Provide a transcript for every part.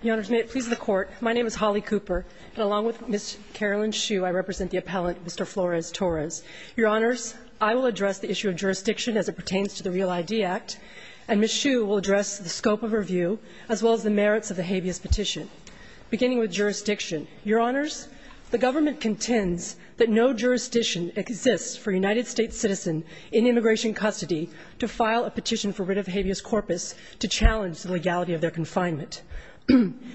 Your Honors, may it please the Court, my name is Holly Cooper, and along with Ms. Carolyn Hsu, I represent the appellant, Mr. Flores-Torres. Your Honors, I will address the issue of jurisdiction as it pertains to the REAL ID Act, and Ms. Hsu will address the scope of her view, as well as the merits of the habeas petition. Beginning with jurisdiction, Your Honors, the government contends that no jurisdiction exists for a United States citizen in immigration custody to file a petition for rid of habeas corpus to challenge the legality of their confinement.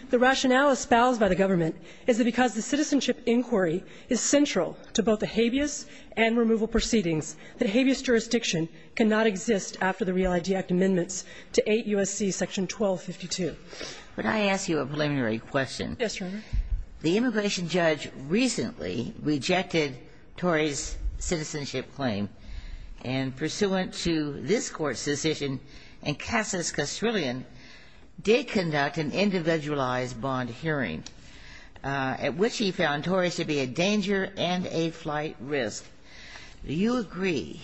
The rationale espoused by the government is that because the citizenship inquiry is central to both the habeas and removal proceedings, that habeas jurisdiction cannot exist after the REAL ID Act amendments to 8 U.S.C. section 1252. Would I ask you a preliminary question? Yes, Your Honor. The immigration judge recently rejected Torres' citizenship claim, and pursuant to this Court's decision, Encasas Castrillon did conduct an individualized bond hearing, at which he found Torres to be a danger and a flight risk. Do you agree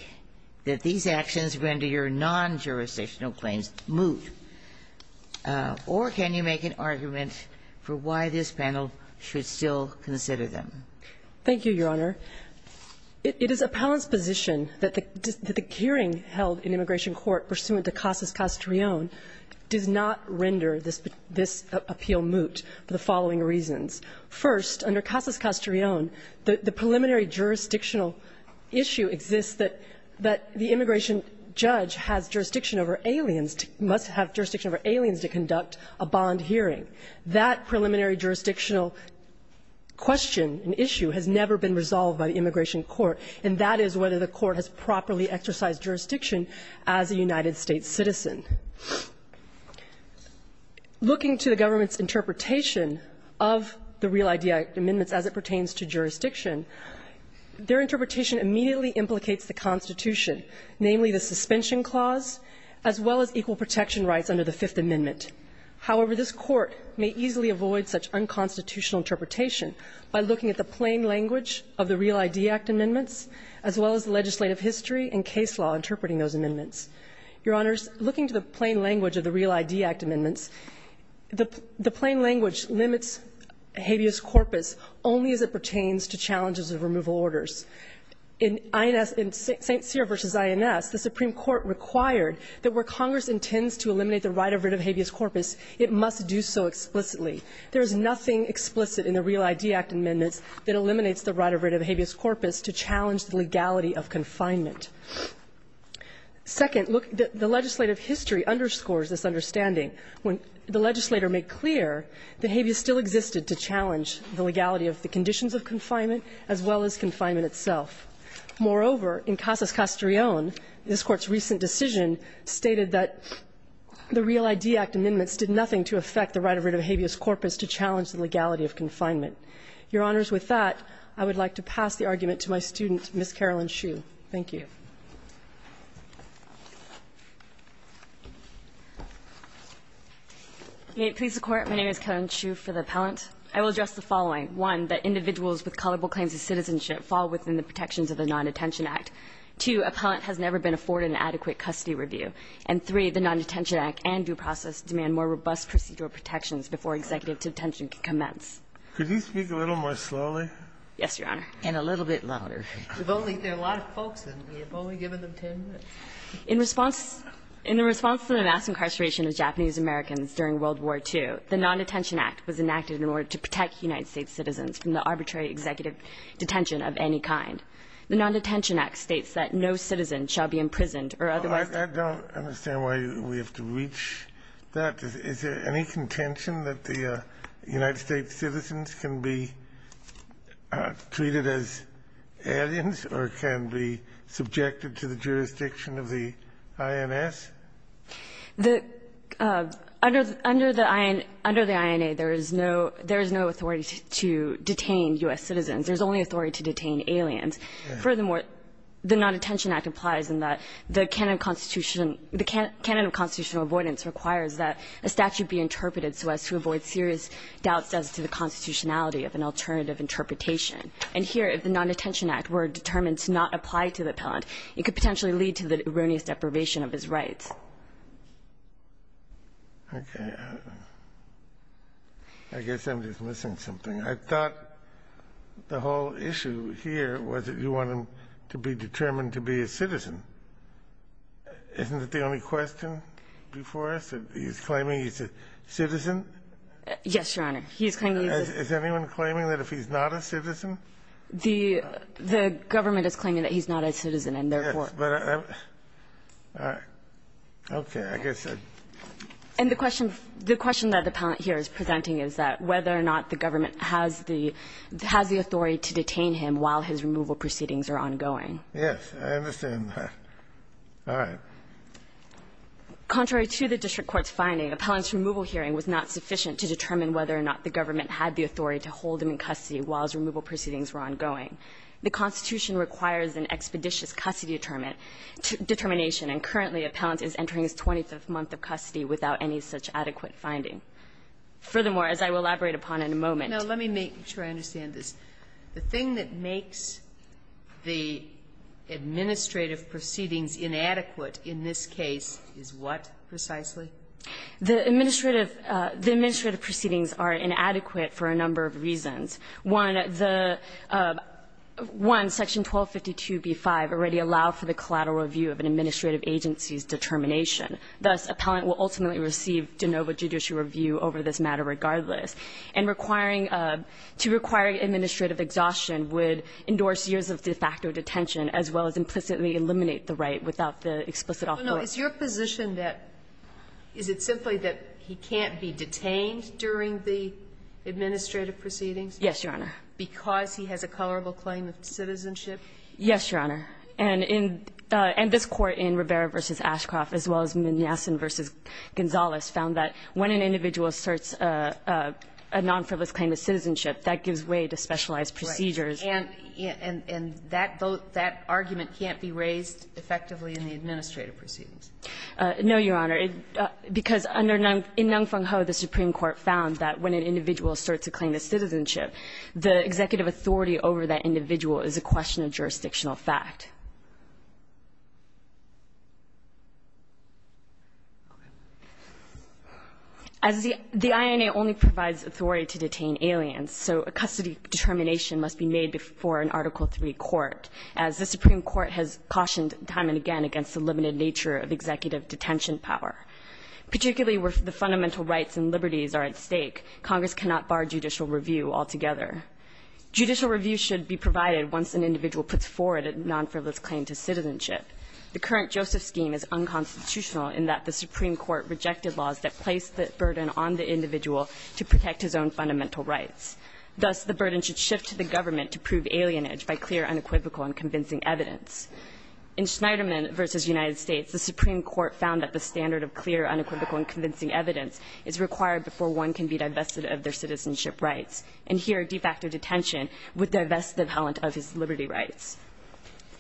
that these actions render your non-jurisdictional claims moot? Or can you make an argument for why this panel should still consider them? Thank you, Your Honor. It is Appellant's position that the hearing held in immigration court pursuant to Encasas Castrillon does not render this appeal moot for the following reasons. First, under Encasas Castrillon, the preliminary jurisdictional issue exists that the immigration judge has jurisdiction over aliens, must have jurisdiction over aliens to conduct a bond hearing. That preliminary jurisdictional question and issue has never been resolved by the immigration court, and that is whether the court has properly exercised jurisdiction as a United States citizen. Looking to the government's interpretation of the REAL ID Act amendments as it pertains to jurisdiction, their interpretation immediately implicates the Constitution, namely the suspension clause, as well as equal protection rights under the Fifth Amendment. However, this Court may easily avoid such unconstitutional interpretation by looking at the plain language of the REAL ID Act amendments as well as legislative history and case law interpreting those amendments. Your Honors, looking to the plain language of the REAL ID Act amendments, the plain language limits habeas corpus only as it pertains to challenges of removal orders. In INS St. Cyr v. INS, the Supreme Court required that where Congress intends to eliminate the right of writ of habeas corpus, it must do so explicitly. There is nothing explicit in the REAL ID Act amendments that eliminates the right of writ of habeas corpus to challenge the legality of confinement. Second, look, the legislative history underscores this understanding. When the legislator made clear that habeas still existed to challenge the legality of the conditions of confinement as well as confinement itself. Moreover, in Casas Castrillon, this Court's recent decision stated that the REAL ID Act amendments did nothing to affect the right of writ of habeas corpus to challenge the legality of confinement. Your Honors, with that, I would like to pass the argument to my student, Ms. Carolyn Hsu. Thank you. Hsu, for the appellant. I will address the following. One, that individuals with culpable claims of citizenship fall within the protections of the Non-Detention Act. Two, appellant has never been afforded an adequate custody review. And three, the Non-Detention Act and due process demand more robust procedural protections before executive detention can commence. Could you speak a little more slowly? Yes, Your Honor. And a little bit louder. We've only got a lot of folks, and we've only given them 10 minutes. In response to the mass incarceration of Japanese-Americans during World War II, the Non-Detention Act was enacted in order to protect United States citizens from the arbitrary executive detention of any kind. The Non-Detention Act states that no citizen shall be imprisoned or otherwise detained. I don't understand why we have to reach that. Is there any contention that the United States citizens can be treated as ex-citizens or aliens or can be subjected to the jurisdiction of the INS? The under the INA, there is no authority to detain U.S. citizens. There's only authority to detain aliens. Furthermore, the Non-Detention Act implies in that the canon of constitutional avoidance requires that a statute be interpreted so as to avoid serious doubts as to the constitutionality of an alternative interpretation. And here, if the Non-Detention Act were determined to not apply to the appellant, it could potentially lead to the erroneous deprivation of his rights. Okay. I guess I'm just missing something. I thought the whole issue here was that you want him to be determined to be a citizen. Isn't that the only question before us? He's claiming he's a citizen? Yes, Your Honor. He's claiming he's a citizen. Is anyone claiming that if he's not a citizen? The government is claiming that he's not a citizen and therefore. Yes, but I'm, all right. Okay, I guess I. And the question that the appellant here is presenting is that whether or not the government has the authority to detain him while his removal proceedings are ongoing. Yes, I understand that. All right. Contrary to the district court's finding, appellant's removal hearing was not sufficient to determine whether or not the government had the authority to hold him in custody while his removal proceedings were ongoing. The Constitution requires an expeditious custody determination, and currently appellant is entering his 25th month of custody without any such adequate finding. Furthermore, as I will elaborate upon in a moment. Now, let me make sure I understand this. The thing that makes the administrative proceedings inadequate in this case is what, precisely? The administrative, the administrative proceedings are inadequate for a number of reasons. One, the, one, section 1252b-5 already allowed for the collateral review of an administrative agency's determination. Thus, appellant will ultimately receive de novo judicial review over this matter regardless. And requiring, to require administrative exhaustion would endorse years of de facto detention, as well as implicitly eliminate the right without the explicit offer. Sotomayor, is your position that, is it simply that he can't be detained during the administrative proceedings? Yes, Your Honor. Because he has a colorable claim of citizenship? Yes, Your Honor. And in, and this Court in Rivera v. Ashcroft, as well as Mignasin v. Gonzales, found that when an individual asserts a, a non-frivolous claim of citizenship, that gives way to specialized procedures. And, and, and that vote, that argument can't be raised effectively in the administrative proceedings. No, Your Honor. It, because under, in Ng Fung Ho, the Supreme Court found that when an individual asserts a claim of citizenship, the executive authority over that individual is a question of jurisdictional fact. As the, the INA only provides authority to detain aliens, so a custody determination must be made before an Article III court, as the Supreme Court has cautioned time and again against the limited nature of executive detention power. Particularly where the fundamental rights and liberties are at stake, Congress cannot bar judicial review altogether. Judicial review should be provided once an individual puts forward a non-frivolous claim to citizenship. The current Joseph scheme is unconstitutional in that the Supreme Court rejected laws that place the burden on the individual to protect his own fundamental rights. Thus, the burden should shift to the government to prove alienage by clear, unequivocal and convincing evidence. In Schneiderman v. United States, the Supreme Court found that the standard of clear, unequivocal and convincing evidence is required before one can be divested of their citizenship rights. And here, de facto detention would divest the valent of his liberty rights.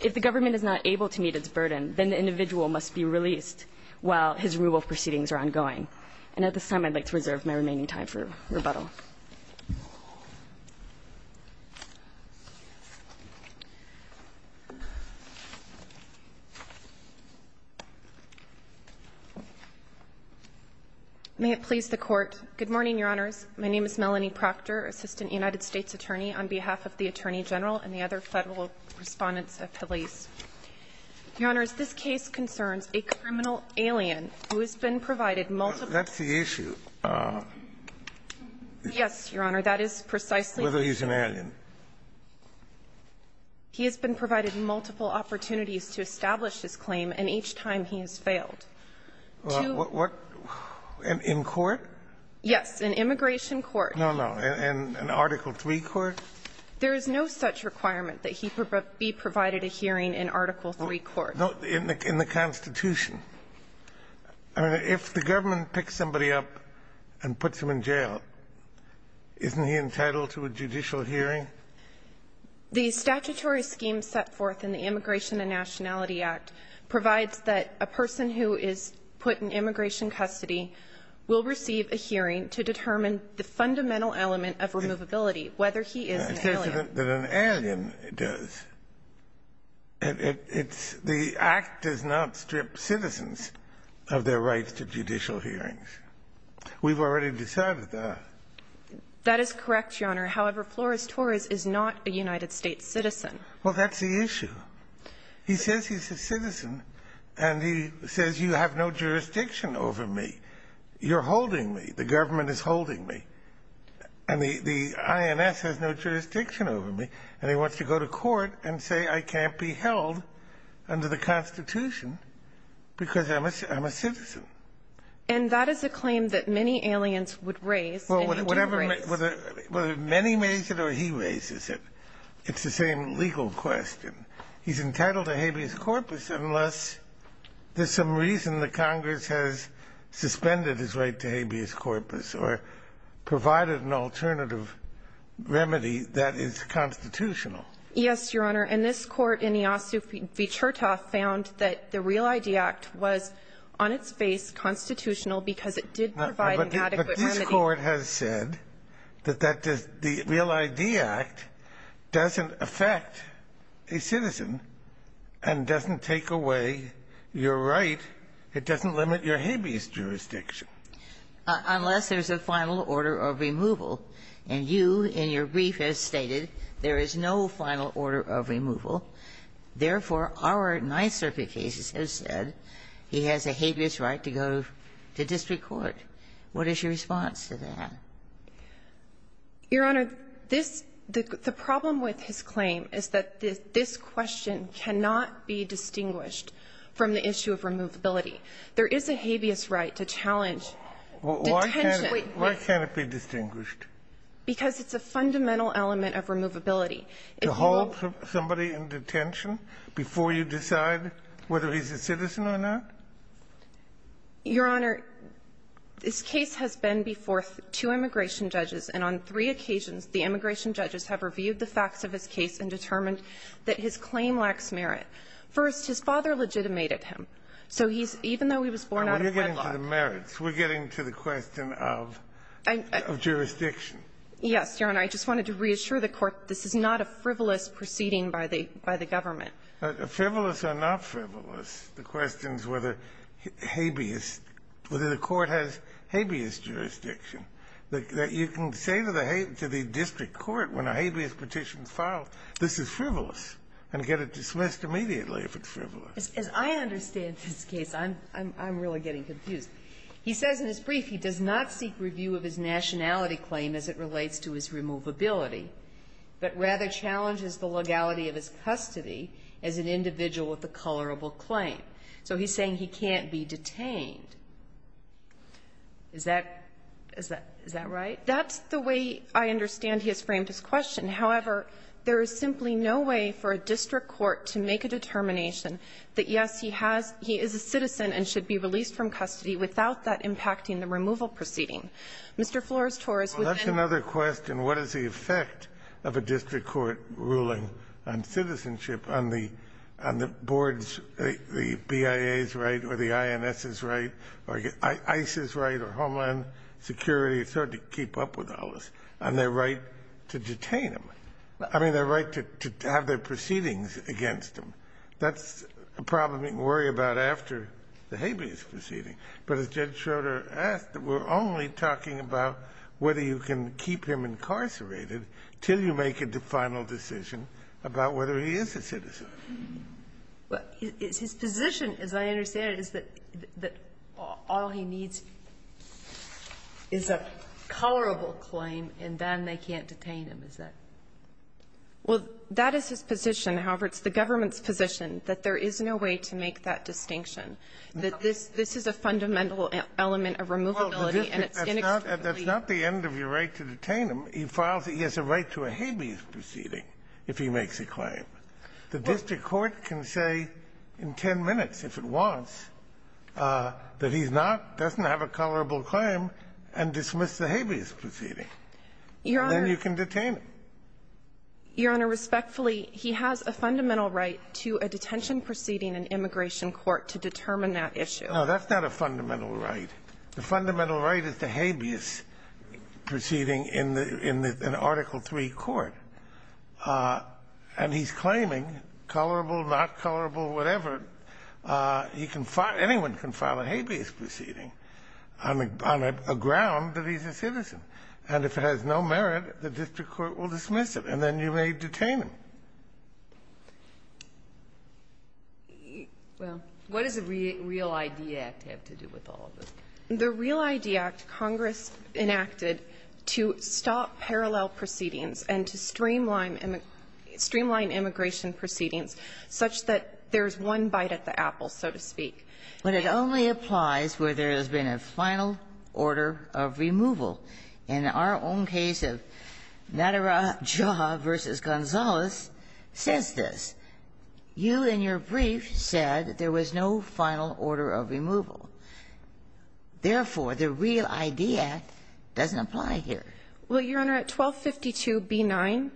If the government is not able to meet its burden, then the individual must be released while his removal proceedings are ongoing. And at this time, I'd like to reserve my remaining time for rebuttal. May it please the Court. Good morning, Your Honors. My name is Melanie Proctor, Assistant United States Attorney, on behalf of the Attorney General and the other Federal Respondents of Police. Your Honors, this case concerns a criminal alien who has been provided multiple opportunities to establish his claim, and each time he has failed. Yes, Your Honor, that is precisely the case. Whether he's an alien. He has been provided multiple opportunities to establish his claim, and each time he has failed. Well, what – in court? Yes, in immigration court. No, no. In Article III court? There is no such requirement that he be provided a hearing in Article III court. In the Constitution. I mean, if the government picks somebody up and puts him in jail, isn't he entitled to a judicial hearing? The statutory scheme set forth in the Immigration and Nationality Act provides that a person who is put in immigration custody will receive a hearing to determine the fundamental element of removability, whether he is an alien. It says that an alien does. It's – the Act does not strip citizens of their rights to judicial hearings. We've already decided that. That is correct, Your Honor. However, Flores Torres is not a United States citizen. Well, that's the issue. He says he's a citizen, and he says, you have no jurisdiction over me. You're holding me. The government is holding me. And the INS has no jurisdiction over me. And he wants to go to court and say I can't be held under the Constitution because I'm a citizen. And that is a claim that many aliens would raise, and they do raise. Whether many raise it or he raises it, it's the same legal question. He's entitled to habeas corpus unless there's some reason the Congress has suspended his right to habeas corpus or provided an alternative remedy that is constitutional. Yes, Your Honor. And this Court in Iossou v. Chertoff found that the Real ID Act was on its face constitutional because it did provide an adequate remedy. But this Court has said that that does – the Real ID Act doesn't affect a citizen and doesn't take away your right. It doesn't limit your habeas jurisdiction. Unless there's a final order of removal. And you, in your brief, have stated there is no final order of removal. Therefore, our Ninth Circuit cases have said he has a habeas right to go to district court. What is your response to that? Your Honor, this – the problem with his claim is that this question cannot be distinguished from the issue of removability. There is a habeas right to challenge detention. Why can't it be distinguished? Because it's a fundamental element of removability. To hold somebody in detention before you decide whether he's a citizen or not? Your Honor, this case has been before two immigration judges, and on three occasions the immigration judges have reviewed the facts of his case and determined that his claim lacks merit. First, his father legitimated him. So he's – even though he was born out of wedlock – And we're getting to the merits. We're getting to the question of – of jurisdiction. Yes, Your Honor. I just wanted to reassure the Court this is not a frivolous proceeding by the government. Frivolous or not frivolous, the question is whether habeas – whether the Court has habeas jurisdiction, that you can say to the district court when a habeas petition is filed, this is frivolous, and get it dismissed immediately if it's frivolous. As I understand this case, I'm really getting confused. He says in his brief he does not seek review of his nationality claim as it relates to his removability, but rather challenges the legality of his custody as an individual with a colorable claim. So he's saying he can't be detained. Is that – is that right? That's the way I understand he has framed his question. However, there is simply no way for a district court to make a determination that, yes, he has – he is a citizen and should be released from custody without that impacting the removal proceeding. Mr. Flores-Torres, within – Well, that's another question. What is the effect of a district court ruling on citizenship on the – on the board's – the BIA's right or the INS's right or ICE's right or Homeland Security's hard to keep up with all this, and their right to detain him. I mean, their right to have their proceedings against him. That's a problem you can worry about after the habeas proceeding. But as Judge Schroeder asked, we're only talking about whether you can keep him incarcerated till you make a final decision about whether he is a citizen. Well, his position, as I understand it, is that – that all he needs is a tolerable claim, and then they can't detain him, is that – Well, that is his position. However, it's the government's position that there is no way to make that distinction. That this – this is a fundamental element of removability, and it's inexcusable. That's not the end of your right to detain him. He files – he has a right to a habeas proceeding if he makes a claim. The district court can say in 10 minutes, if it wants, that he's not – doesn't have a tolerable claim and dismiss the habeas proceeding. Your Honor – Then you can detain him. Your Honor, respectfully, he has a fundamental right to a detention proceeding in immigration court to determine that issue. No, that's not a fundamental right. The fundamental right is the habeas proceeding in the – in the Article III court. And he's claiming, tolerable, not tolerable, whatever, he can – anyone can file a habeas proceeding on a – on a ground that he's a citizen. And if it has no merit, the district court will dismiss it, and then you may detain him. Well, what does the Real ID Act have to do with all of this? The Real ID Act Congress enacted to stop parallel proceedings and to streamline immigration proceedings such that there's one bite at the apple, so to speak. But it only applies where there has been a final order of removal. In our own case of Nadara Jha v. Gonzalez says this. You, in your brief, said there was no final order of removal. Therefore, the Real ID Act doesn't apply here. Well, Your Honor, at 1252b9,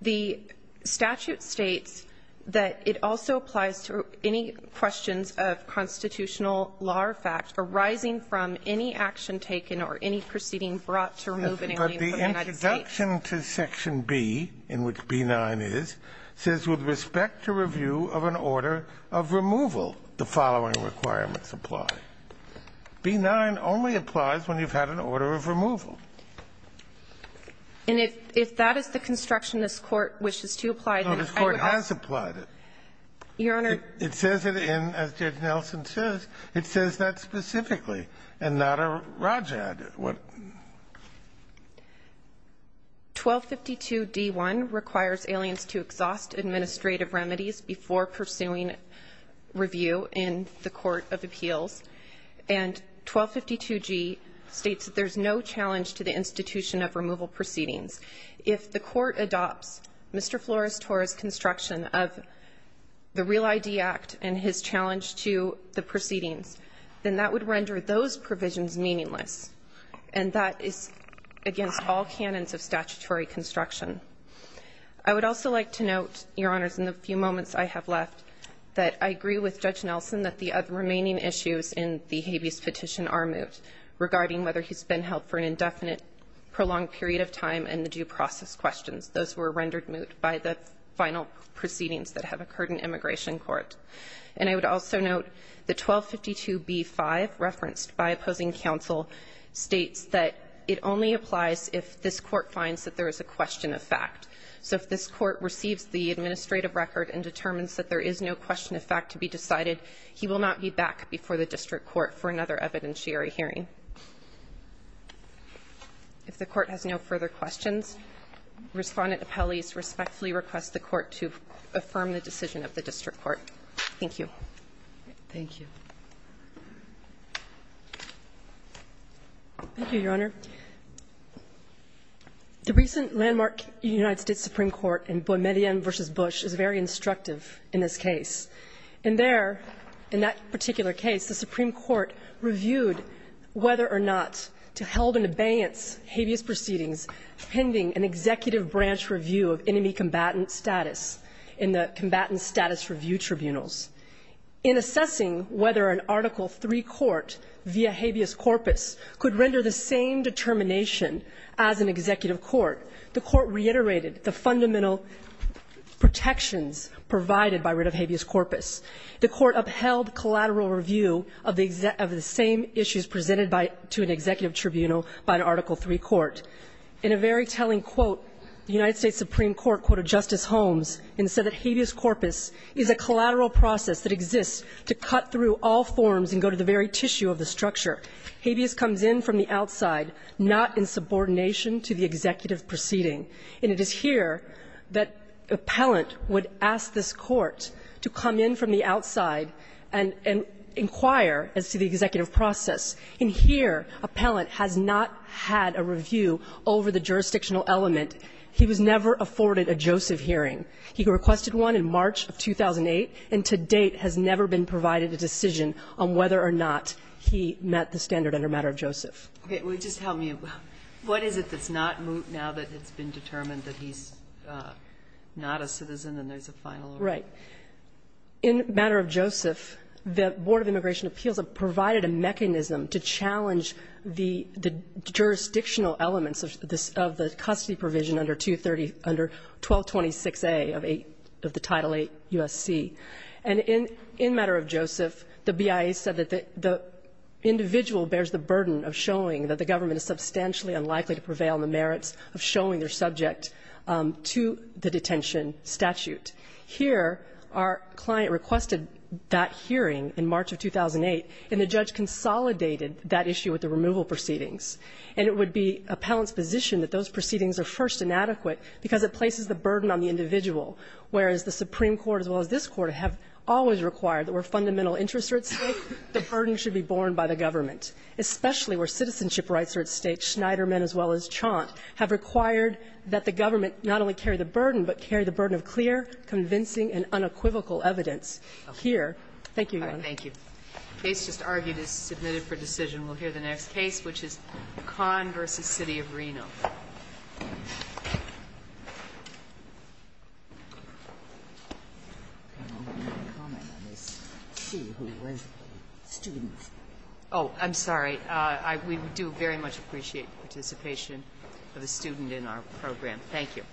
the statute states that it also applies to any questions of constitutional law or fact arising from any action taken or any proceeding brought to remove an alien from the United States. But the introduction to Section B, in which b9 is, says, with respect to review of an order of removal, the following requirements apply. B9 only applies when you've had an order of removal. And if that is the construction this Court wishes to apply, then I would ask the court to do so. No, this Court has applied it. Your Honor. It says it in, as Judge Nelson says, it says that specifically. And Nadara Rajad, what? 1252d1 requires aliens to exhaust administrative remedies before pursuing review in the court of appeals. And 1252g states that there's no challenge to the institution of removal proceedings. If the court adopts Mr. Flores-Torres' construction of the Real ID Act and his challenge to the proceedings, then that would render those provisions meaningless. And that is against all canons of statutory construction. I would also like to note, Your Honors, in the few moments I have left, that I agree with Judge Nelson that the remaining issues in the habeas petition are moot regarding whether he's been held for an indefinite, prolonged period of time and the due process questions. Those were rendered moot by the final proceedings that have occurred in Immigration Court. And I would also note that 1252b5, referenced by opposing counsel, states that it only applies if this Court finds that there is a question of fact. So if this Court receives the administrative record and determines that there is no question of fact, then the court has decided he will not be back before the district court for another evidentiary hearing. If the court has no further questions, Respondent Apelles respectfully requests the Court to affirm the decision of the district court. Thank you. Thank you. Thank you, Your Honor. The recent landmark United States Supreme Court in Boismedian v. Bush is very instructive in this case. In there, in that particular case, the Supreme Court reviewed whether or not to held an abeyance habeas proceedings pending an executive branch review of enemy combatant status in the combatant status review tribunals. In assessing whether an Article III court via habeas corpus could render the same determination as an executive court, the Court reiterated the fundamental protections provided by writ of habeas corpus. The Court upheld collateral review of the same issues presented to an executive tribunal by an Article III court. In a very telling quote, the United States Supreme Court quoted Justice Holmes and said that habeas corpus is a collateral process that exists to cut through all forms and go to the very tissue of the structure. Habeas comes in from the outside, not in subordination to the executive proceeding. And it is here that appellant would ask this court to come in from the outside and inquire as to the executive process. In here, appellant has not had a review over the jurisdictional element. He was never afforded a Joseph hearing. He requested one in March of 2008, and to date has never been provided a decision on whether or not he met the standard under matter of Joseph. Okay. Well, just tell me, what is it that's not moot now that it's been determined that he's not a citizen and there's a final order? Right. In matter of Joseph, the Board of Immigration Appeals provided a mechanism to challenge the jurisdictional elements of the custody provision under 1226A of the Title VIII U.S.C. And in matter of Joseph, the BIA said that the individual bears the burden of showing that the government is substantially unlikely to prevail on the merits of showing their subject to the detention statute. Here, our client requested that hearing in March of 2008, and the judge consolidated that issue with the removal proceedings. And it would be appellant's position that those proceedings are first inadequate because it places the burden on the individual, whereas the Supreme Court as well The burden should be borne by the government, especially where citizenship rights are at stake. Schneiderman, as well as Chant, have required that the government not only carry the burden, but carry the burden of clear, convincing, and unequivocal evidence here. Thank you, Your Honor. Thank you. The case just argued is submitted for decision. We'll hear the next case, which is Conn v. City of Reno. Oh, I'm sorry. We do very much appreciate the participation of the student in our program. Thank you.